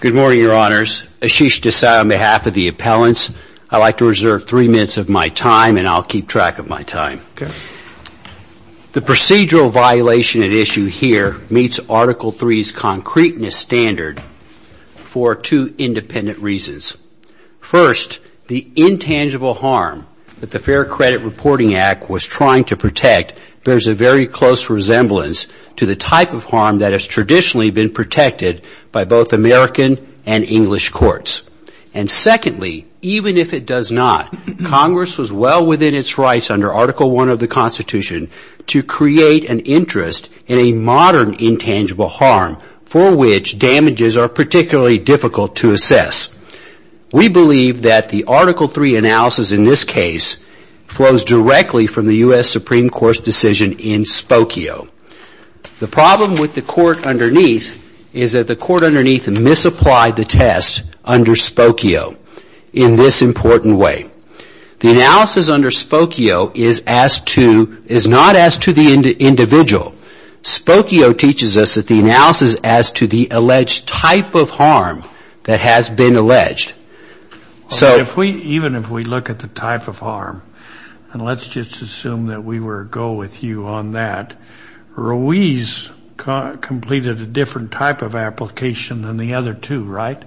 Good morning, Your Honors. Ashish Desai on behalf of the appellants. I'd like to reserve three minutes of my time and I'll keep track of my time. The procedural violation at issue here meets Article III's concreteness standard for two independent reasons. First, the intangible harm that the Fair Credit Reporting Act was trying to protect bears a very close resemblance to the type of harm that has traditionally been protected by both American and English courts. And secondly, even if it does not, Congress was well within its rights under Article I of the Constitution to create an interest in a modern intangible harm for which damages are particularly difficult to assess. We believe that the Article III analysis in this case flows directly from the U.S. Supreme Court's decision in Spokio. The problem with the court underneath is that the court underneath misapplied the test under Spokio in this important way. The analysis under Spokio is not as to the individual. Spokio teaches us that the analysis is as to the alleged type of harm that has been alleged. Even if we look at the type of harm, and let's just assume that we were to go with you on that, Ruiz completed a different type of application than the other two, right?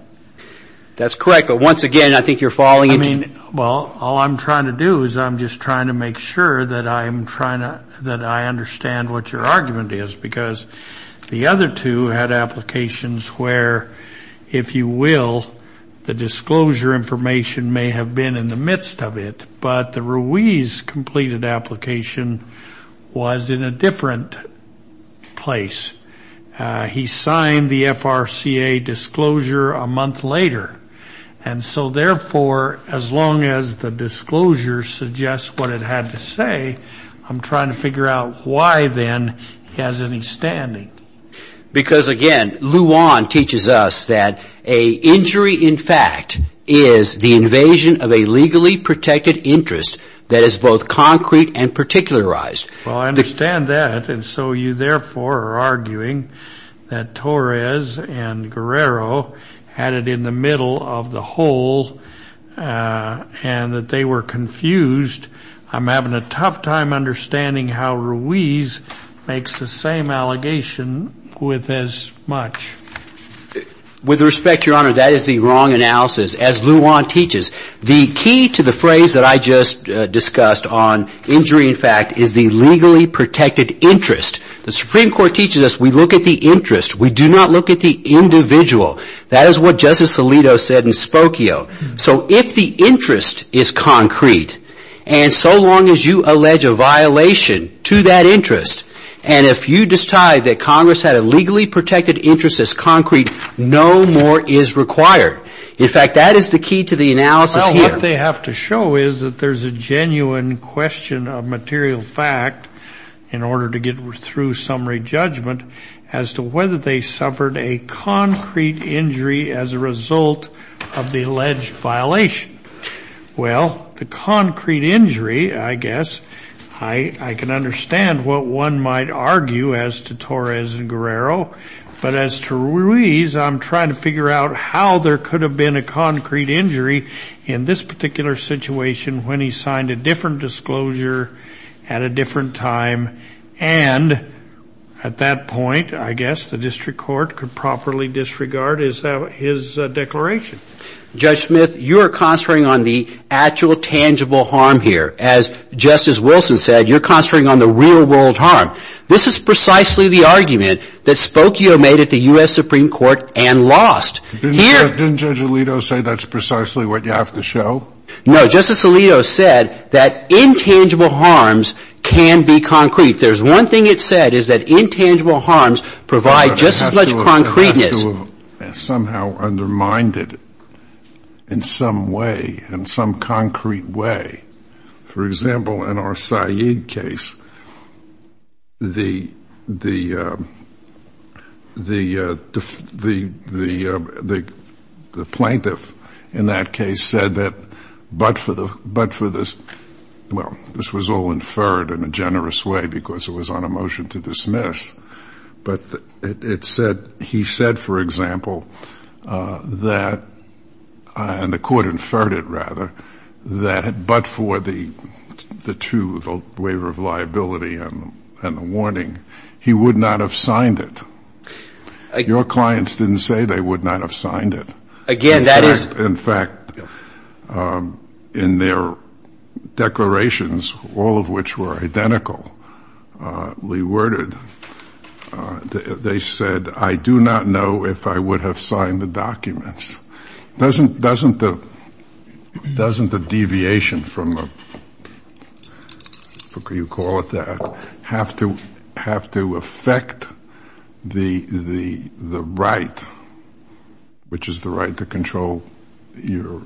That's correct, but once again, I think you're falling into... Well, all I'm trying to do is I'm just trying to make sure that I understand what your argument is, because the other two had applications where, if you will, the disclosure information may have been in the midst of it, but the Ruiz-completed application was in a different place. He signed the FRCA disclosure a month later, and so therefore, as long as the disclosure suggests what it had to say, I'm trying to figure out why, then, he has any standing. Because, again, Luan teaches us that an injury, in fact, is the invasion of a legally protected interest that is both concrete and particularized. Well, I understand that, and so you, therefore, are arguing that Torres and Guerrero had it in the middle of the hole, and that they were confused. I'm having a tough time understanding how Ruiz makes the same allegation with as much. With respect, Your Honor, that is the wrong analysis. As Luan teaches, the key to the phrase that I just discussed on injury, in fact, is the legally protected interest. The Supreme Court teaches us we look at the interest. We do not look at the individual. That is what Justice Alito said in Spokio. So if the interest is concrete, and so long as you allege a violation to that interest, and if you decide that Congress had a legally protected interest that's concrete, no more is required. In fact, that is the key to the analysis here. Well, what they have to show is that there's a genuine question of material fact in order to get through summary judgment as to whether they suffered a concrete injury as a result of the alleged violation. Well, the concrete injury, I guess, I can understand what one might argue as to Torres and Guerrero, but as to Ruiz, I'm trying to figure out how there could have been a concrete injury in this particular situation when he signed a different disclosure at a different time, and at that point, I guess, the district court could properly disregard his declaration. Judge Smith, you are concentrating on the actual tangible harm here. As Justice Wilson said, you're concentrating on the real-world harm. This is precisely the argument that Spokio made at the U.S. Supreme Court and lost. Didn't Judge Alito say that's precisely what you have to show? No. Justice Alito said that intangible harms can be concrete. There's one thing it said is that intangible harms provide just as much concreteness. It has to have somehow undermined it in some way, in some concrete way. For example, in our Said case, the plaintiff in that case said that, but for the, but for this, well, this was all inferred in a generous way because it was on a motion to dismiss, but it said, he said, for example, that, and the court inferred it rather, that but for the true waiver of liability and the warning, he would not have signed it. Your clients didn't say they would not have signed it. Again, that is. In fact, in their declarations, all of which were identically worded, they said, I do not know if I would have signed the documents. Doesn't the deviation from the, you call it that, have to affect the right, which is the right to control your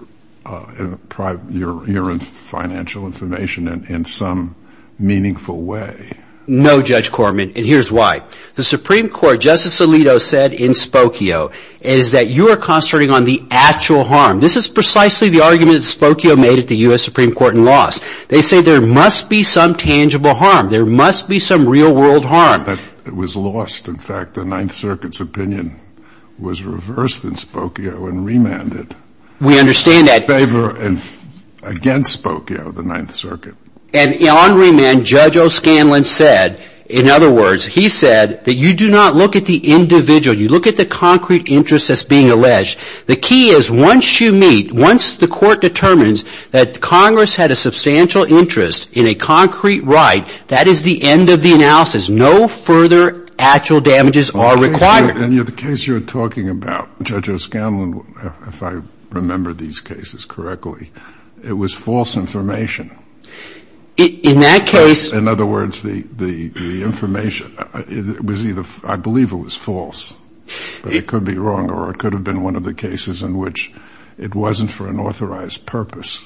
financial information in some meaningful way? No, Judge Corman, and here's why. The Supreme Court, Justice Alito said in Spokio, is that you are concentrating on the actual harm. This is precisely the argument that Spokio made at the U.S. Supreme Court and lost. They say there must be some tangible harm. There must be some real-world harm. But it was lost. In fact, the Ninth Circuit's opinion was reversed in Spokio and remanded. We understand that. In favor and against Spokio, the Ninth Circuit. And on remand, Judge O'Scanlan said, in other words, he said that you do not look at the individual. You look at the concrete interest that's being alleged. The key is once you meet, once the Court determines that Congress had a substantial interest in a concrete right, that is the end of the analysis. No further actual damages are required. And the case you're talking about, Judge O'Scanlan, if I remember these cases correctly, it was false information. In that case. In other words, the information was either, I believe it was false, but it could be wrong, or it could have been one of the cases in which it wasn't for an authorized purpose.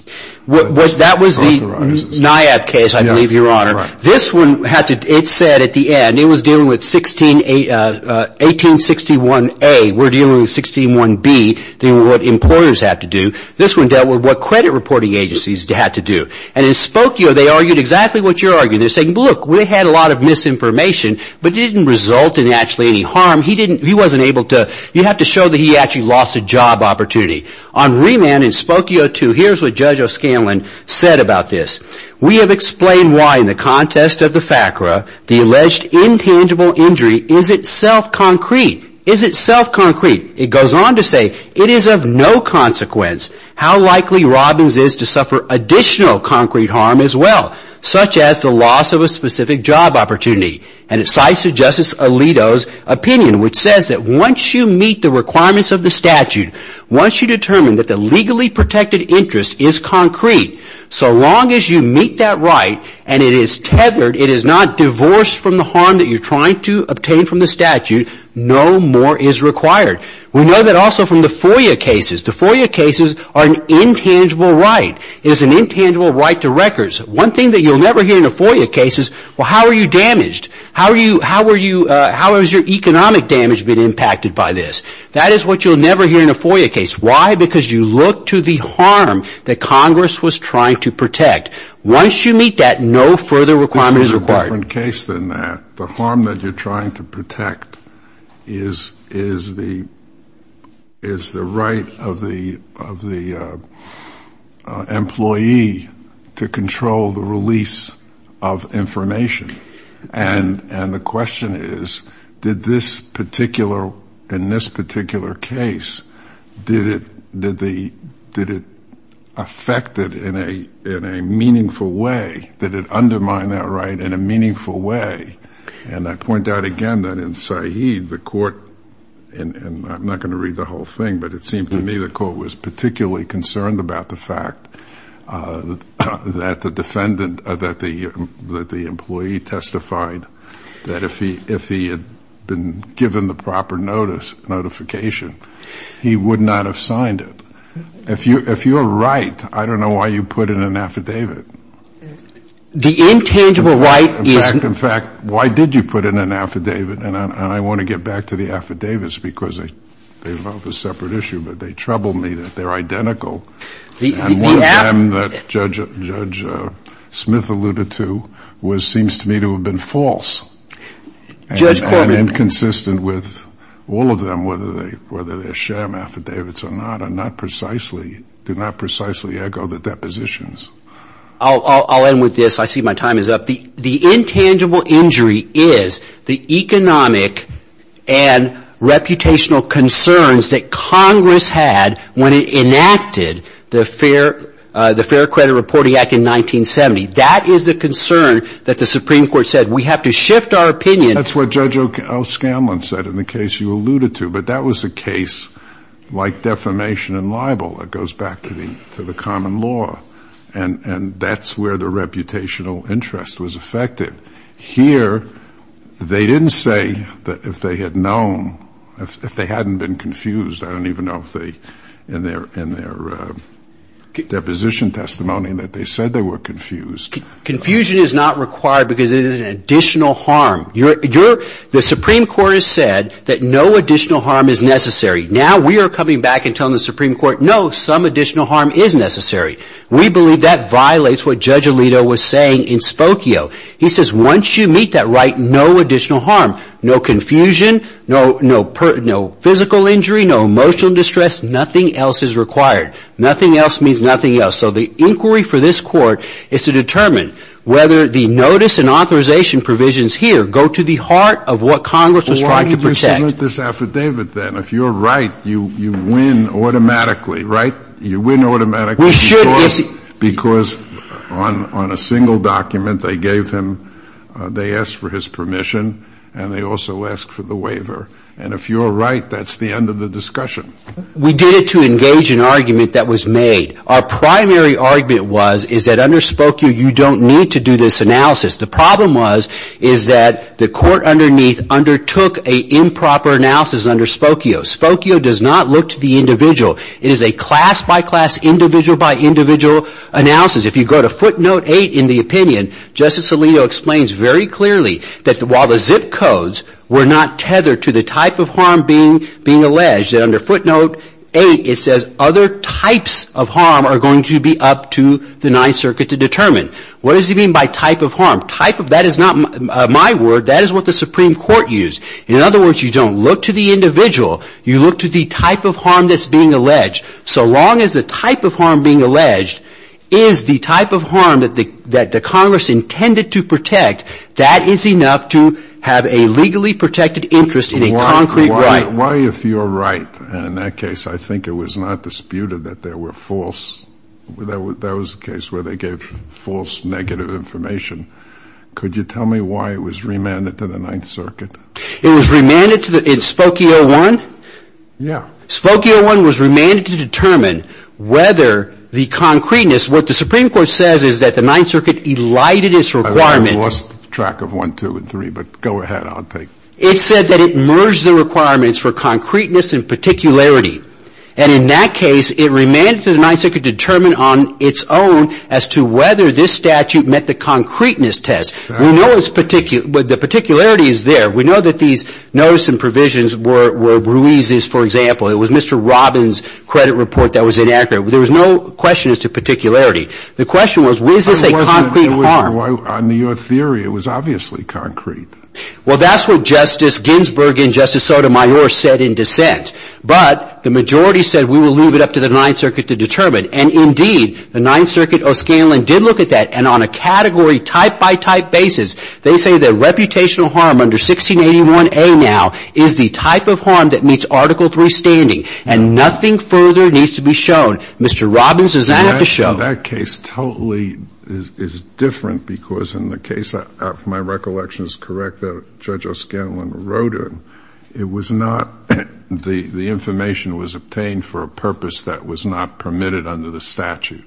That was the NIAB case, I believe, Your Honor. This one had to, it said at the end, it was dealing with 1861A. We're dealing with 1861B, dealing with what employers had to do. This one dealt with what credit reporting agencies had to do. And in Spokio, they argued exactly what you're arguing. They're saying, look, we had a lot of misinformation, but it didn't result in actually any harm. He didn't, he wasn't able to, you have to show that he actually lost a job opportunity. On remand in Spokio too, here's what Judge O'Scanlan said about this. We have explained why in the contest of the FACRA, the alleged intangible injury is itself concrete. Is itself concrete. It goes on to say, it is of no consequence how likely Robbins is to suffer additional concrete harm as well, such as the loss of a specific job opportunity. And it cites Justice Alito's opinion, which says that once you meet the requirements of the statute, once you determine that the legally protected interest is concrete, so long as you meet that right and it is tethered, it is not divorced from the harm that you're trying to obtain from the statute, no more is required. We know that also from the FOIA cases. The FOIA cases are an intangible right. It is an intangible right to records. One thing that you'll never hear in a FOIA case is, well, how are you damaged? How are you, how are you, how has your economic damage been impacted by this? That is what you'll never hear in a FOIA case. Why? Because you look to the harm that Congress was trying to protect. Once you meet that, no further requirement is required. The harm that you're trying to protect is the right of the employee to control the release of information. And the question is, did this particular, in this particular case, did it affect it in a meaningful way? Did it undermine that right in a meaningful way? And I point out again that in Said, the court, and I'm not going to read the whole thing, but it seemed to me the court was particularly concerned about the fact that the defendant, that the employee testified that if he had been given the proper notice, notification, he would not have signed it. If you're right, I don't know why you put in an affidavit. The intangible right is. In fact, why did you put in an affidavit? And I want to get back to the affidavits because they involve a separate issue, but they trouble me that they're identical. And one of them that Judge Smith alluded to was, seems to me to have been false. And inconsistent with all of them, whether they're sham affidavits or not, are not precisely, do not precisely echo the depositions. I'll end with this. I see my time is up. The intangible injury is the economic and reputational concerns that Congress had when it enacted the Fair Credit Reporting Act in 1970. That is the concern that the Supreme Court said, we have to shift our opinion. That's what Judge O'Scanlan said in the case you alluded to. But that was a case like defamation and libel. It goes back to the common law. And that's where the reputational interest was affected. Here, they didn't say that if they had known, if they hadn't been confused, I don't even know if they, in their deposition testimony, that they said they were confused. Confusion is not required because it is an additional harm. The Supreme Court has said that no additional harm is necessary. Now we are coming back and telling the Supreme Court, no, some additional harm is necessary. We believe that violates what Judge Alito was saying in Spokio. He says once you meet that right, no additional harm, no confusion, no physical injury, no emotional distress, nothing else is required. Nothing else means nothing else. So the inquiry for this Court is to determine whether the notice and authorization provisions here go to the heart of what Congress was trying to protect. Why did you submit this affidavit then? If you're right, you win automatically, right? You win automatically because on a single document they gave him, they asked for his permission and they also asked for the waiver. And if you're right, that's the end of the discussion. We did it to engage an argument that was made. Our primary argument was is that under Spokio you don't need to do this analysis. The problem was is that the court underneath undertook an improper analysis under Spokio. Spokio does not look to the individual. It is a class-by-class, individual-by-individual analysis. If you go to footnote 8 in the opinion, Justice Alito explains very clearly that while the zip codes were not tethered to the type of harm being alleged, that under footnote 8 it says other types of harm are going to be up to the Ninth Circuit to determine. What does he mean by type of harm? That is not my word. That is what the Supreme Court used. In other words, you don't look to the individual. You look to the type of harm that's being alleged. So long as the type of harm being alleged is the type of harm that the Congress intended to protect, that is enough to have a legally protected interest in a concrete right. Why, if you're right, and in that case I think it was not disputed that there were false, that was the case where they gave false negative information, could you tell me why it was remanded to the Ninth Circuit? It was remanded to the – Spokio 1? Yeah. Spokio 1 was remanded to determine whether the concreteness – what the Supreme Court says is that the Ninth Circuit elided its requirement. I've lost track of 1, 2, and 3, but go ahead, I'll take it. It said that it merged the requirements for concreteness and particularity. And in that case, it remanded to the Ninth Circuit to determine on its own as to whether this statute met the concreteness test. We know it's – the particularity is there. We know that these notice and provisions were Ruiz's, for example. It was Mr. Robbins' credit report that was inaccurate. There was no question as to particularity. The question was, was this a concrete harm? It wasn't. On your theory, it was obviously concrete. Well, that's what Justice Ginsburg and Justice Sotomayor said in dissent. But the majority said we will leave it up to the Ninth Circuit to determine. And indeed, the Ninth Circuit, O'Scanlan did look at that. And on a category, type-by-type basis, they say that reputational harm under 1681A now is the type of harm that meets Article III standing. And nothing further needs to be shown. Mr. Robbins does not have to show. That case totally is different because in the case, if my recollection is correct, that Judge O'Scanlan wrote in, the information was obtained for a purpose that was not permitted under the statute.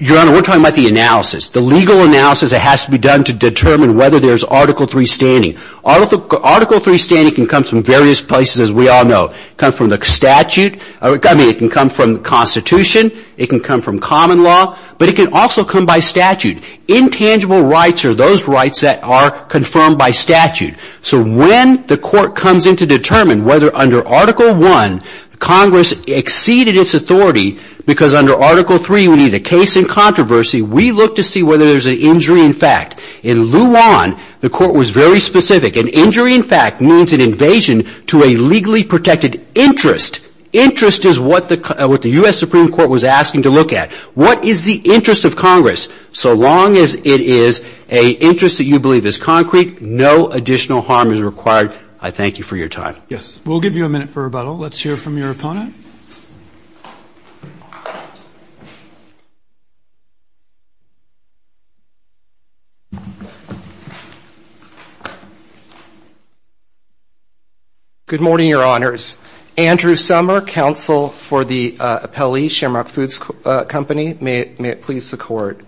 Your Honor, we're talking about the analysis. The legal analysis that has to be done to determine whether there's Article III standing. Article III standing can come from various places, as we all know. It can come from the statute. I mean, it can come from the Constitution. It can come from common law. But it can also come by statute. Intangible rights are those rights that are confirmed by statute. So when the Court comes in to determine whether under Article I Congress exceeded its authority because under Article III we need a case in controversy, we look to see whether there's an injury in fact. In Luan, the Court was very specific. An injury in fact means an invasion to a legally protected interest. Interest is what the U.S. Supreme Court was asking to look at. What is the interest of Congress? So long as it is an interest that you believe is concrete, no additional harm is required. I thank you for your time. Yes. We'll give you a minute for rebuttal. Let's hear from your opponent. Good morning, Your Honors. Andrew Sommer, counsel for the Appellee Shamrock Foods Company. May it please the Court.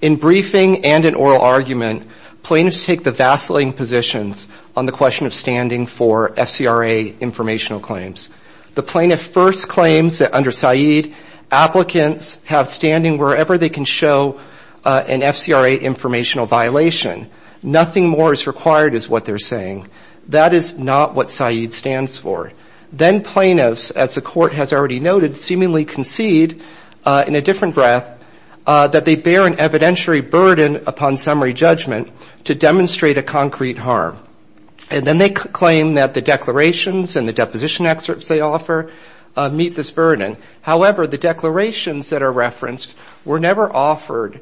In briefing and in oral argument, plaintiffs take the vacillating positions on the question of standing for FCRA informational claims. The plaintiff first claims that under Said, applicants have standing wherever they can show an FCRA informational violation. Nothing more is required is what they're saying. That is not what Said stands for. Then plaintiffs, as the Court has already noted, seemingly concede in a different breath that they bear an evidentiary burden upon summary judgment to demonstrate a concrete harm. And then they claim that the declarations and the deposition excerpts they offer meet this burden. However, the declarations that are referenced were never offered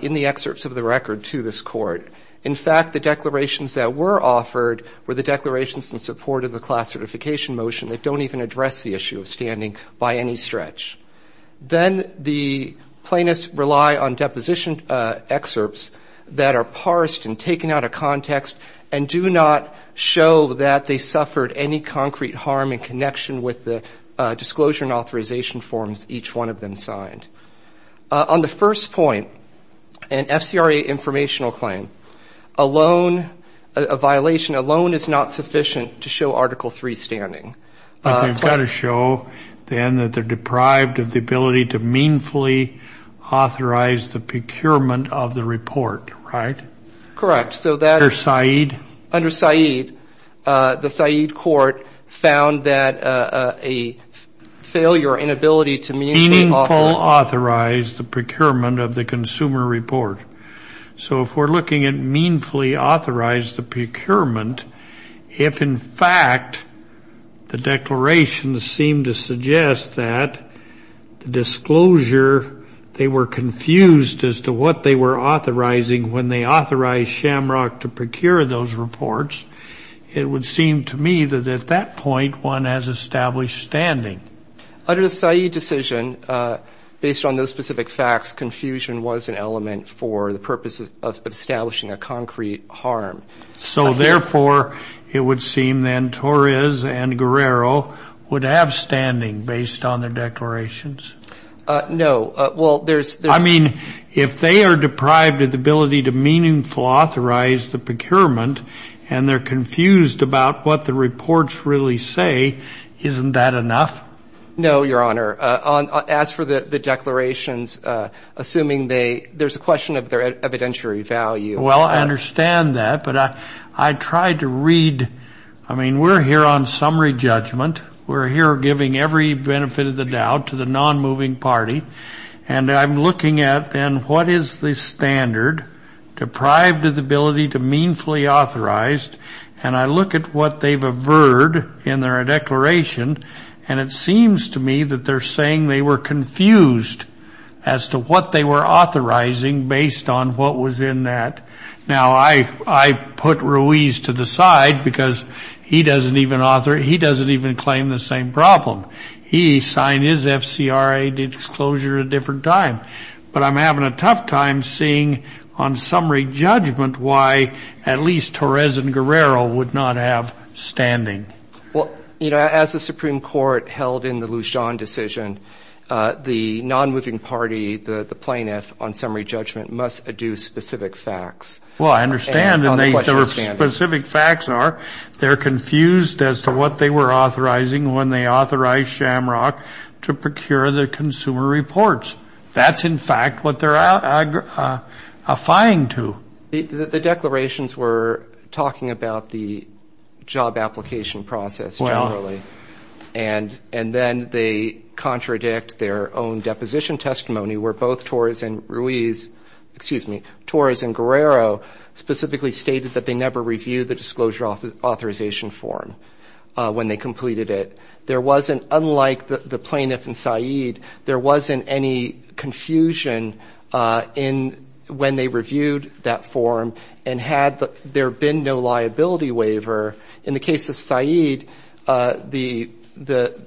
in the excerpts of the record to this Court. In fact, the declarations that were offered were the declarations in support of the class certification motion. They don't even address the issue of standing by any stretch. Then the plaintiffs rely on deposition excerpts that are parsed and taken out of context and do not show that they suffered any concrete harm in connection with the disclosure and authorization forms each one of them signed. On the first point, an FCRA informational claim, a loan, a violation, a loan is not sufficient to show Article III standing. But they've got to show then that they're deprived of the ability to meanfully authorize the procurement of the report, right? Correct. Under Said? Under Said, the Said Court found that a failure or inability to meanfully authorize the procurement of the consumer report. So if we're looking at meanfully authorize the procurement, if in fact the declarations seem to suggest that the disclosure, they were confused as to what they were authorizing when they authorized Shamrock to procure those reports, it would seem to me that at that point one has established standing. Under the Said decision, based on those specific facts, confusion was an element for the purposes of establishing a concrete harm. So, therefore, it would seem then Torres and Guerrero would have standing based on their declarations? No. Well, there's this. I mean, if they are deprived of the ability to meaningfully authorize the procurement and they're confused about what the reports really say, isn't that enough? No, Your Honor. As for the declarations, assuming they, there's a question of their evidentiary value. Well, I understand that. But I tried to read, I mean, we're here on summary judgment. We're here giving every benefit of the doubt to the nonmoving party. And I'm looking at then what is the standard, deprived of the ability to meanfully authorize, and I look at what they've averred in their declaration, and it seems to me that they're saying they were confused as to what they were authorizing based on what was in that. Now, I put Ruiz to the side because he doesn't even claim the same problem. He signed his FCRA disclosure at a different time. But I'm having a tough time seeing on summary judgment why at least Torres and Guerrero would not have standing. Well, you know, as the Supreme Court held in the Lujan decision, the nonmoving party, the plaintiff, on summary judgment must adduce specific facts. Well, I understand. And the specific facts are they're confused as to what they were authorizing when they authorized Shamrock to procure the consumer reports. That's, in fact, what they're affying to. The declarations were talking about the job application process generally, and then they contradict their own deposition testimony where both Torres and Ruiz, excuse me, Torres and Guerrero specifically stated that they never reviewed the disclosure authorization form when they completed it. There wasn't, unlike the plaintiff and Said, there wasn't any confusion when they reviewed that form and had there been no liability waiver. In the case of Said, the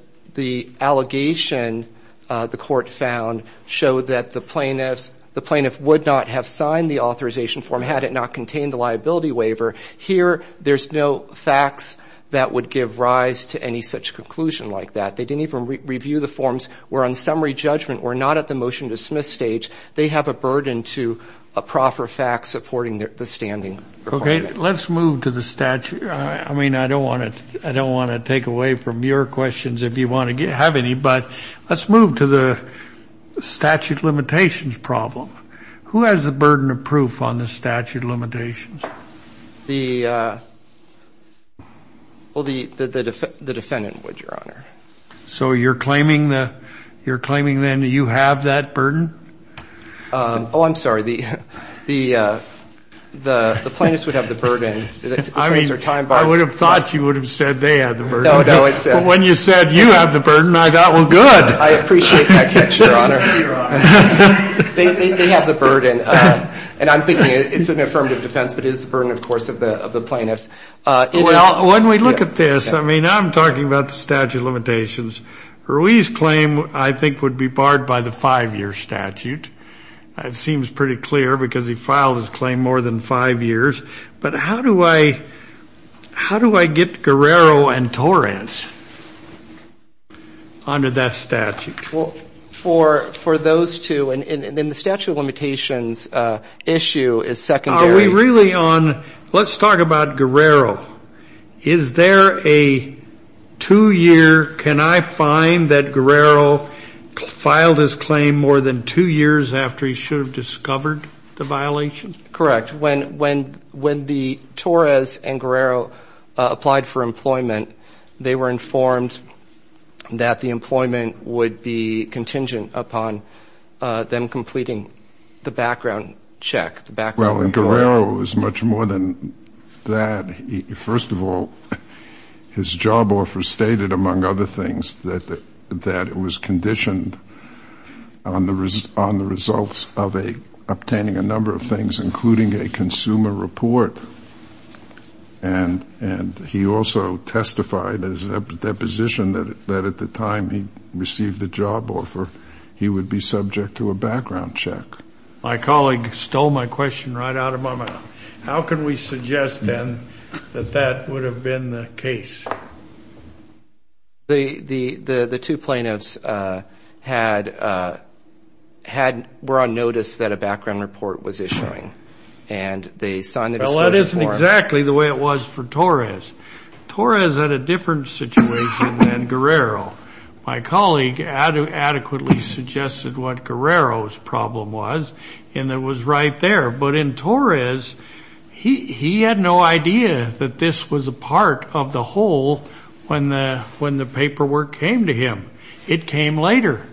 allegation the court found showed that the plaintiff would not have signed the authorization form had it not contained the liability waiver. Here, there's no facts that would give rise to any such conclusion like that. They didn't even review the forms. We're on summary judgment. We're not at the motion to dismiss stage. They have a burden to a proper fact supporting the standing. Okay. Let's move to the statute. I mean, I don't want to take away from your questions if you want to have any, but let's move to the statute limitations problem. Who has the burden of proof on the statute limitations? Well, the defendant would, Your Honor. So you're claiming then you have that burden? Oh, I'm sorry. The plaintiffs would have the burden. I mean, I would have thought you would have said they had the burden. No, no. When you said you have the burden, I thought, well, good. I appreciate that catch, Your Honor. They have the burden, and I'm thinking it's an affirmative defense, but it is the burden, of course, of the plaintiffs. When we look at this, I mean, I'm talking about the statute limitations. Ruiz's claim, I think, would be barred by the five-year statute. It seems pretty clear because he filed his claim more than five years. But how do I get Guerrero and Torrance under that statute? Well, for those two, and the statute of limitations issue is secondary. Are we really on? Let's talk about Guerrero. Is there a two-year, can I find that Guerrero filed his claim more than two years after he should have discovered the violation? Correct. When the Torres and Guerrero applied for employment, they were informed that the employment would be contingent upon them completing the background check. Well, in Guerrero, it was much more than that. First of all, his job offer stated, among other things, that it was conditioned on the results of obtaining a number of things, including a consumer report. And he also testified in his deposition that at the time he received the job offer, he would be subject to a background check. My colleague stole my question right out of my mouth. How can we suggest, then, that that would have been the case? The two plaintiffs were on notice that a background report was issuing. Well, that isn't exactly the way it was for Torres. Torres had a different situation than Guerrero. My colleague adequately suggested what Guerrero's problem was, and it was right there. But in Torres, he had no idea that this was a part of the whole when the paperwork came to him. It came later.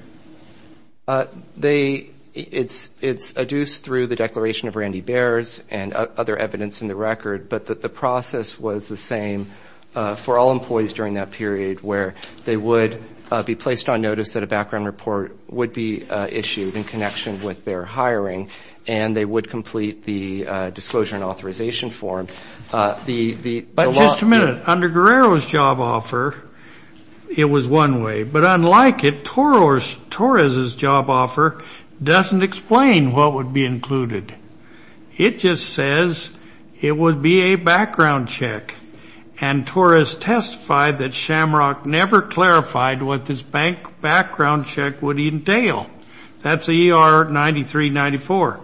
It's adduced through the Declaration of Randy Bears and other evidence in the record, but the process was the same for all employees during that period, where they would be placed on notice that a background report would be issued in connection with their hiring, and they would complete the disclosure and authorization form. But just a minute. Under Guerrero's job offer, it was one way. But unlike it, Torres's job offer doesn't explain what would be included. It just says it would be a background check, and Torres testified that Shamrock never clarified what this background check would entail. That's ER 9394.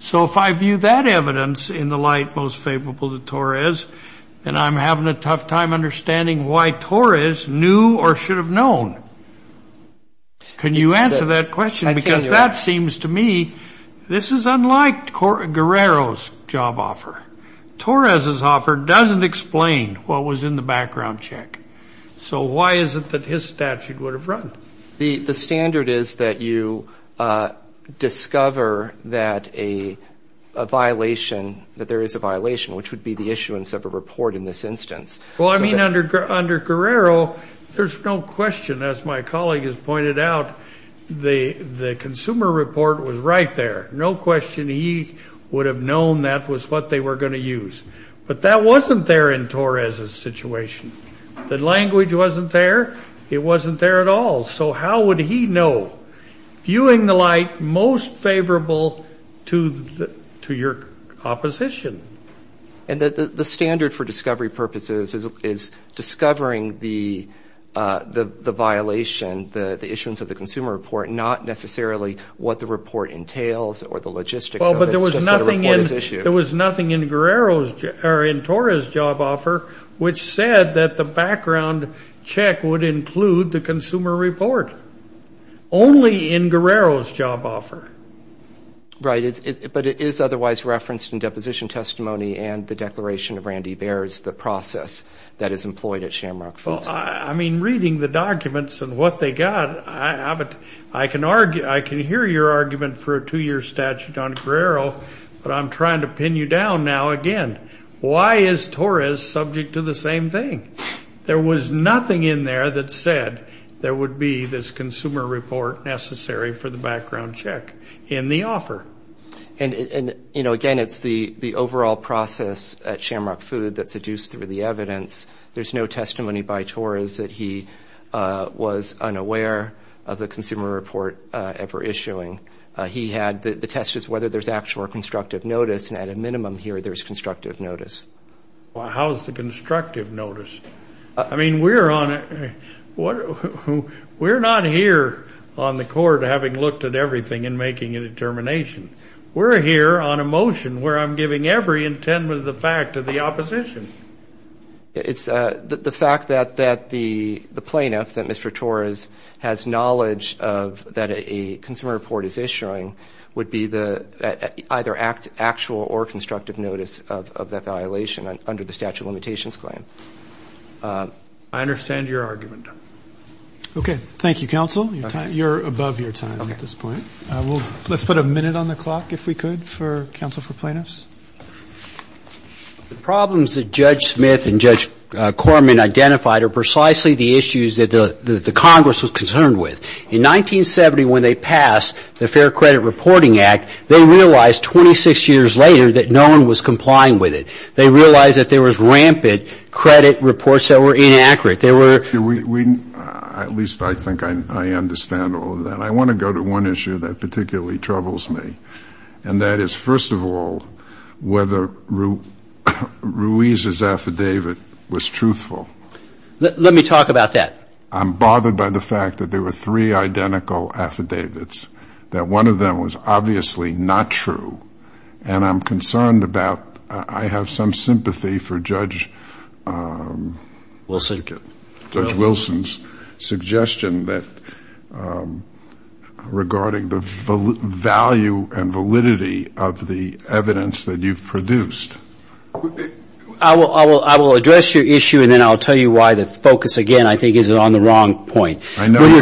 So if I view that evidence in the light most favorable to Torres, then I'm having a tough time understanding why Torres knew or should have known. Can you answer that question? Because that seems to me this is unlike Guerrero's job offer. Torres's offer doesn't explain what was in the background check. So why is it that his statute would have run? The standard is that you discover that a violation, that there is a violation, which would be the issuance of a report in this instance. Well, I mean, under Guerrero, there's no question, as my colleague has pointed out, the consumer report was right there. No question he would have known that was what they were going to use. But that wasn't there in Torres's situation. The language wasn't there. It wasn't there at all. So how would he know? Viewing the light most favorable to your opposition. And the standard for discovery purposes is discovering the violation, the issuance of the consumer report, not necessarily what the report entails or the logistics of it, it's just that a report is issued. There was nothing in Torres's job offer which said that the background check would include the consumer report. Only in Guerrero's job offer. Right, but it is otherwise referenced in deposition testimony and the declaration of Randy Baer's, the process that is employed at Shamrock Foods. I mean, reading the documents and what they got, I can hear your argument for a two-year statute on Guerrero, but I'm trying to pin you down now again. Why is Torres subject to the same thing? There was nothing in there that said there would be this consumer report necessary for the background check in the offer. And, you know, again, it's the overall process at Shamrock Foods that's adduced through the evidence. There's no testimony by Torres that he was unaware of the consumer report ever issuing. The test is whether there's actual or constructive notice, and at a minimum here there's constructive notice. Well, how is the constructive notice? I mean, we're not here on the Court having looked at everything and making a determination. We're here on a motion where I'm giving every intent of the fact to the opposition. It's the fact that the plaintiff, that Mr. Torres, has knowledge that a consumer report is issuing would be either actual or constructive notice of that violation under the statute of limitations claim. I understand your argument. Okay. Thank you, counsel. You're above your time at this point. Let's put a minute on the clock, if we could, for counsel for plaintiffs. The problems that Judge Smith and Judge Corman identified are precisely the issues that the Congress was concerned with. In 1970 when they passed the Fair Credit Reporting Act, they realized 26 years later that no one was complying with it. They realized that there was rampant credit reports that were inaccurate. At least I think I understand all of that. I want to go to one issue that particularly troubles me, and that is, first of all, whether Ruiz's affidavit was truthful. Let me talk about that. I'm bothered by the fact that there were three identical affidavits, that one of them was obviously not true, and I'm concerned about I have some sympathy for Judge Wilson's suggestion regarding the value and validity of the evidence that you've produced. I will address your issue, and then I'll tell you why the focus, again, I think is on the wrong point. I know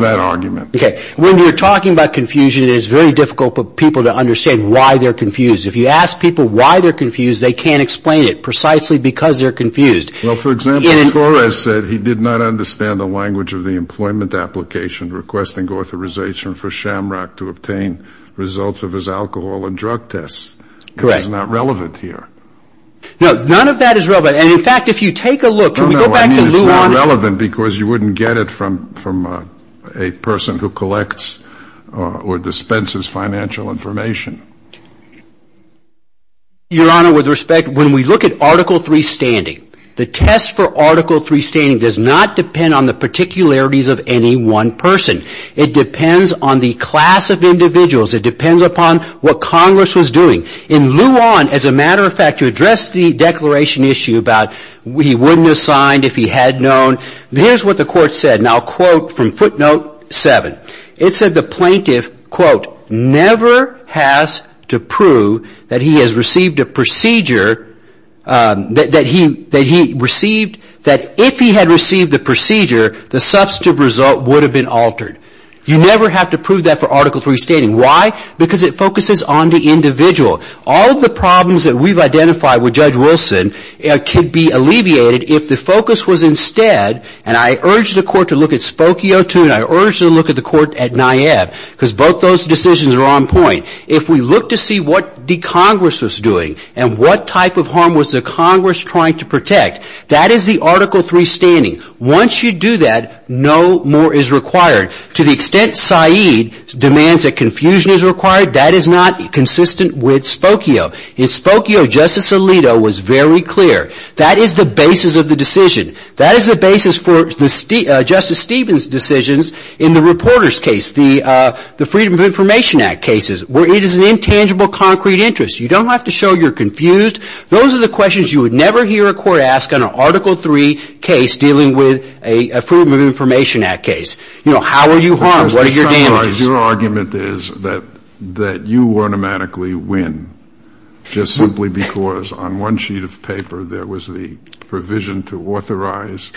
that argument. Okay. When you're talking about confusion, it is very difficult for people to understand why they're confused. If you ask people why they're confused, they can't explain it, precisely because they're confused. Well, for example, Torres said he did not understand the language of the employment application requesting authorization for Shamrock to obtain results of his alcohol and drug tests. Correct. That's not relevant here. No, none of that is relevant. And, in fact, if you take a look, can we go back to Luana? No, no, I mean it's not relevant because you wouldn't get it from a person who collects or dispenses financial information. Your Honor, with respect, when we look at Article III standing, the test for Article III standing does not depend on the particularities of any one person. It depends on the class of individuals. It depends upon what Congress was doing. In Luana, as a matter of fact, to address the declaration issue about he wouldn't have signed if he had known, here's what the court said. And I'll quote from footnote 7. It said the plaintiff, quote, never has to prove that he has received a procedure, that if he had received the procedure, the substantive result would have been altered. You never have to prove that for Article III standing. Why? Because it focuses on the individual. All of the problems that we've identified with Judge Wilson could be alleviated if the focus was instead, and I urge the court to look at Spokio too, and I urge them to look at the court at NIAB, because both those decisions are on point. If we look to see what the Congress was doing and what type of harm was the Congress trying to protect, that is the Article III standing. Once you do that, no more is required. To the extent Said demands that confusion is required, that is not consistent with Spokio. In Spokio, Justice Alito was very clear. That is the basis of the decision. That is the basis for Justice Stevens' decisions in the reporter's case, the Freedom of Information Act cases, where it is an intangible, concrete interest. You don't have to show you're confused. Those are the questions you would never hear a court ask on an Article III case dealing with a Freedom of Information Act case. You know, how are you harmed? What are your damages? Your argument is that you automatically win just simply because on one sheet of paper there was the provision to authorize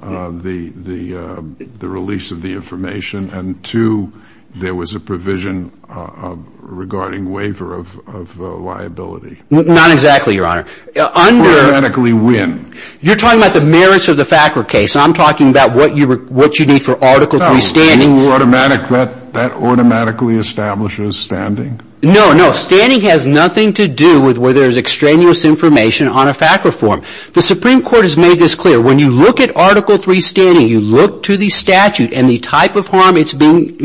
the release of the information and, two, there was a provision regarding waiver of liability. Not exactly, Your Honor. Automatically win. You're talking about the merits of the FACWR case. I'm talking about what you need for Article III standing. No. That automatically establishes standing? No, no. with where there is extraneous information on a FACWR form. The Supreme Court has made this clear. When you look at Article III standing, you look to the statute and the type of harm it's being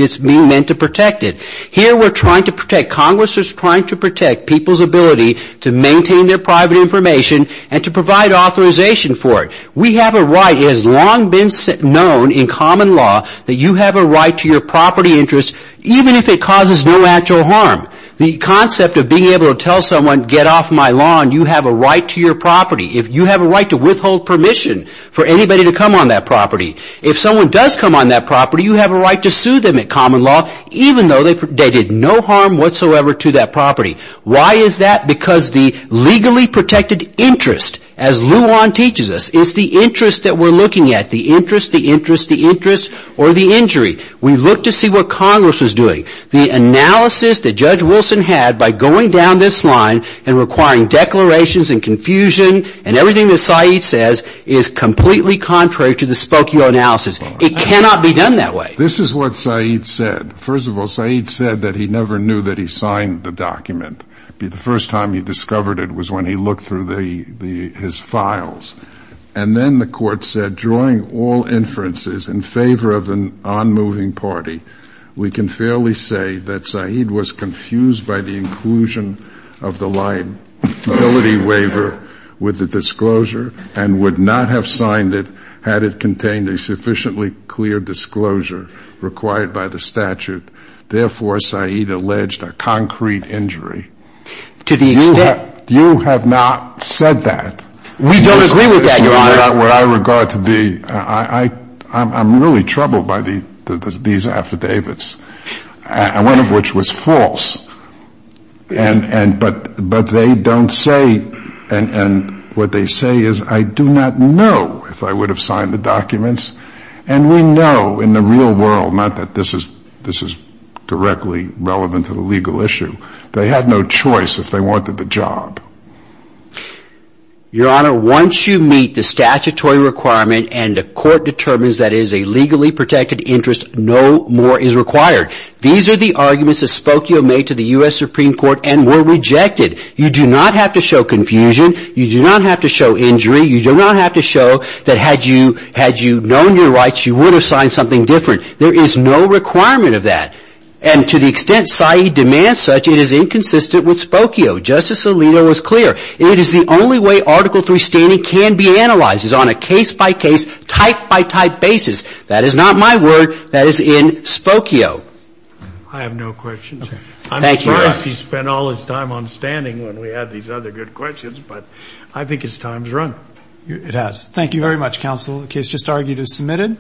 meant to protect it. Here we're trying to protect, Congress is trying to protect people's ability to maintain their private information and to provide authorization for it. We have a right. It has long been known in common law that you have a right to your property interest, even if it causes no actual harm. The concept of being able to tell someone, get off my lawn, you have a right to your property. You have a right to withhold permission for anybody to come on that property. If someone does come on that property, you have a right to sue them in common law, even though they did no harm whatsoever to that property. Why is that? Because the legally protected interest, as Luan teaches us, is the interest that we're looking at. The interest, the interest, the interest, or the injury. We look to see what Congress is doing. The analysis that Judge Wilson had by going down this line and requiring declarations and confusion and everything that Said says is completely contrary to the Spokio analysis. It cannot be done that way. This is what Said said. First of all, Said said that he never knew that he signed the document. The first time he discovered it was when he looked through his files. And then the court said, drawing all inferences in favor of an onmoving party, we can fairly say that Said was confused by the inclusion of the liability waiver with the disclosure and would not have signed it had it contained a sufficiently clear disclosure required by the statute. Therefore, Said alleged a concrete injury. To the extent you have not said that. We don't agree with that, Your Honor. What I regard to be, I'm really troubled by these affidavits, one of which was false. But they don't say, and what they say is, I do not know if I would have signed the documents. And we know in the real world, not that this is directly relevant to the legal issue, they had no choice if they wanted the job. Your Honor, once you meet the statutory requirement and the court determines that it is a legally protected interest, no more is required. These are the arguments that Spokio made to the U.S. Supreme Court and were rejected. You do not have to show confusion. You do not have to show injury. You do not have to show that had you known your rights, you would have signed something different. There is no requirement of that. And to the extent Said demands such, it is inconsistent with Spokio. Justice Alito is clear. It is the only way Article III standing can be analyzed, is on a case-by-case, type-by-type basis. That is not my word. That is in Spokio. I have no questions. Thank you, Your Honor. I'm surprised he spent all his time on standing when we had these other good questions. But I think his time's run. It has. Thank you very much, Counsel. The case just argued is submitted.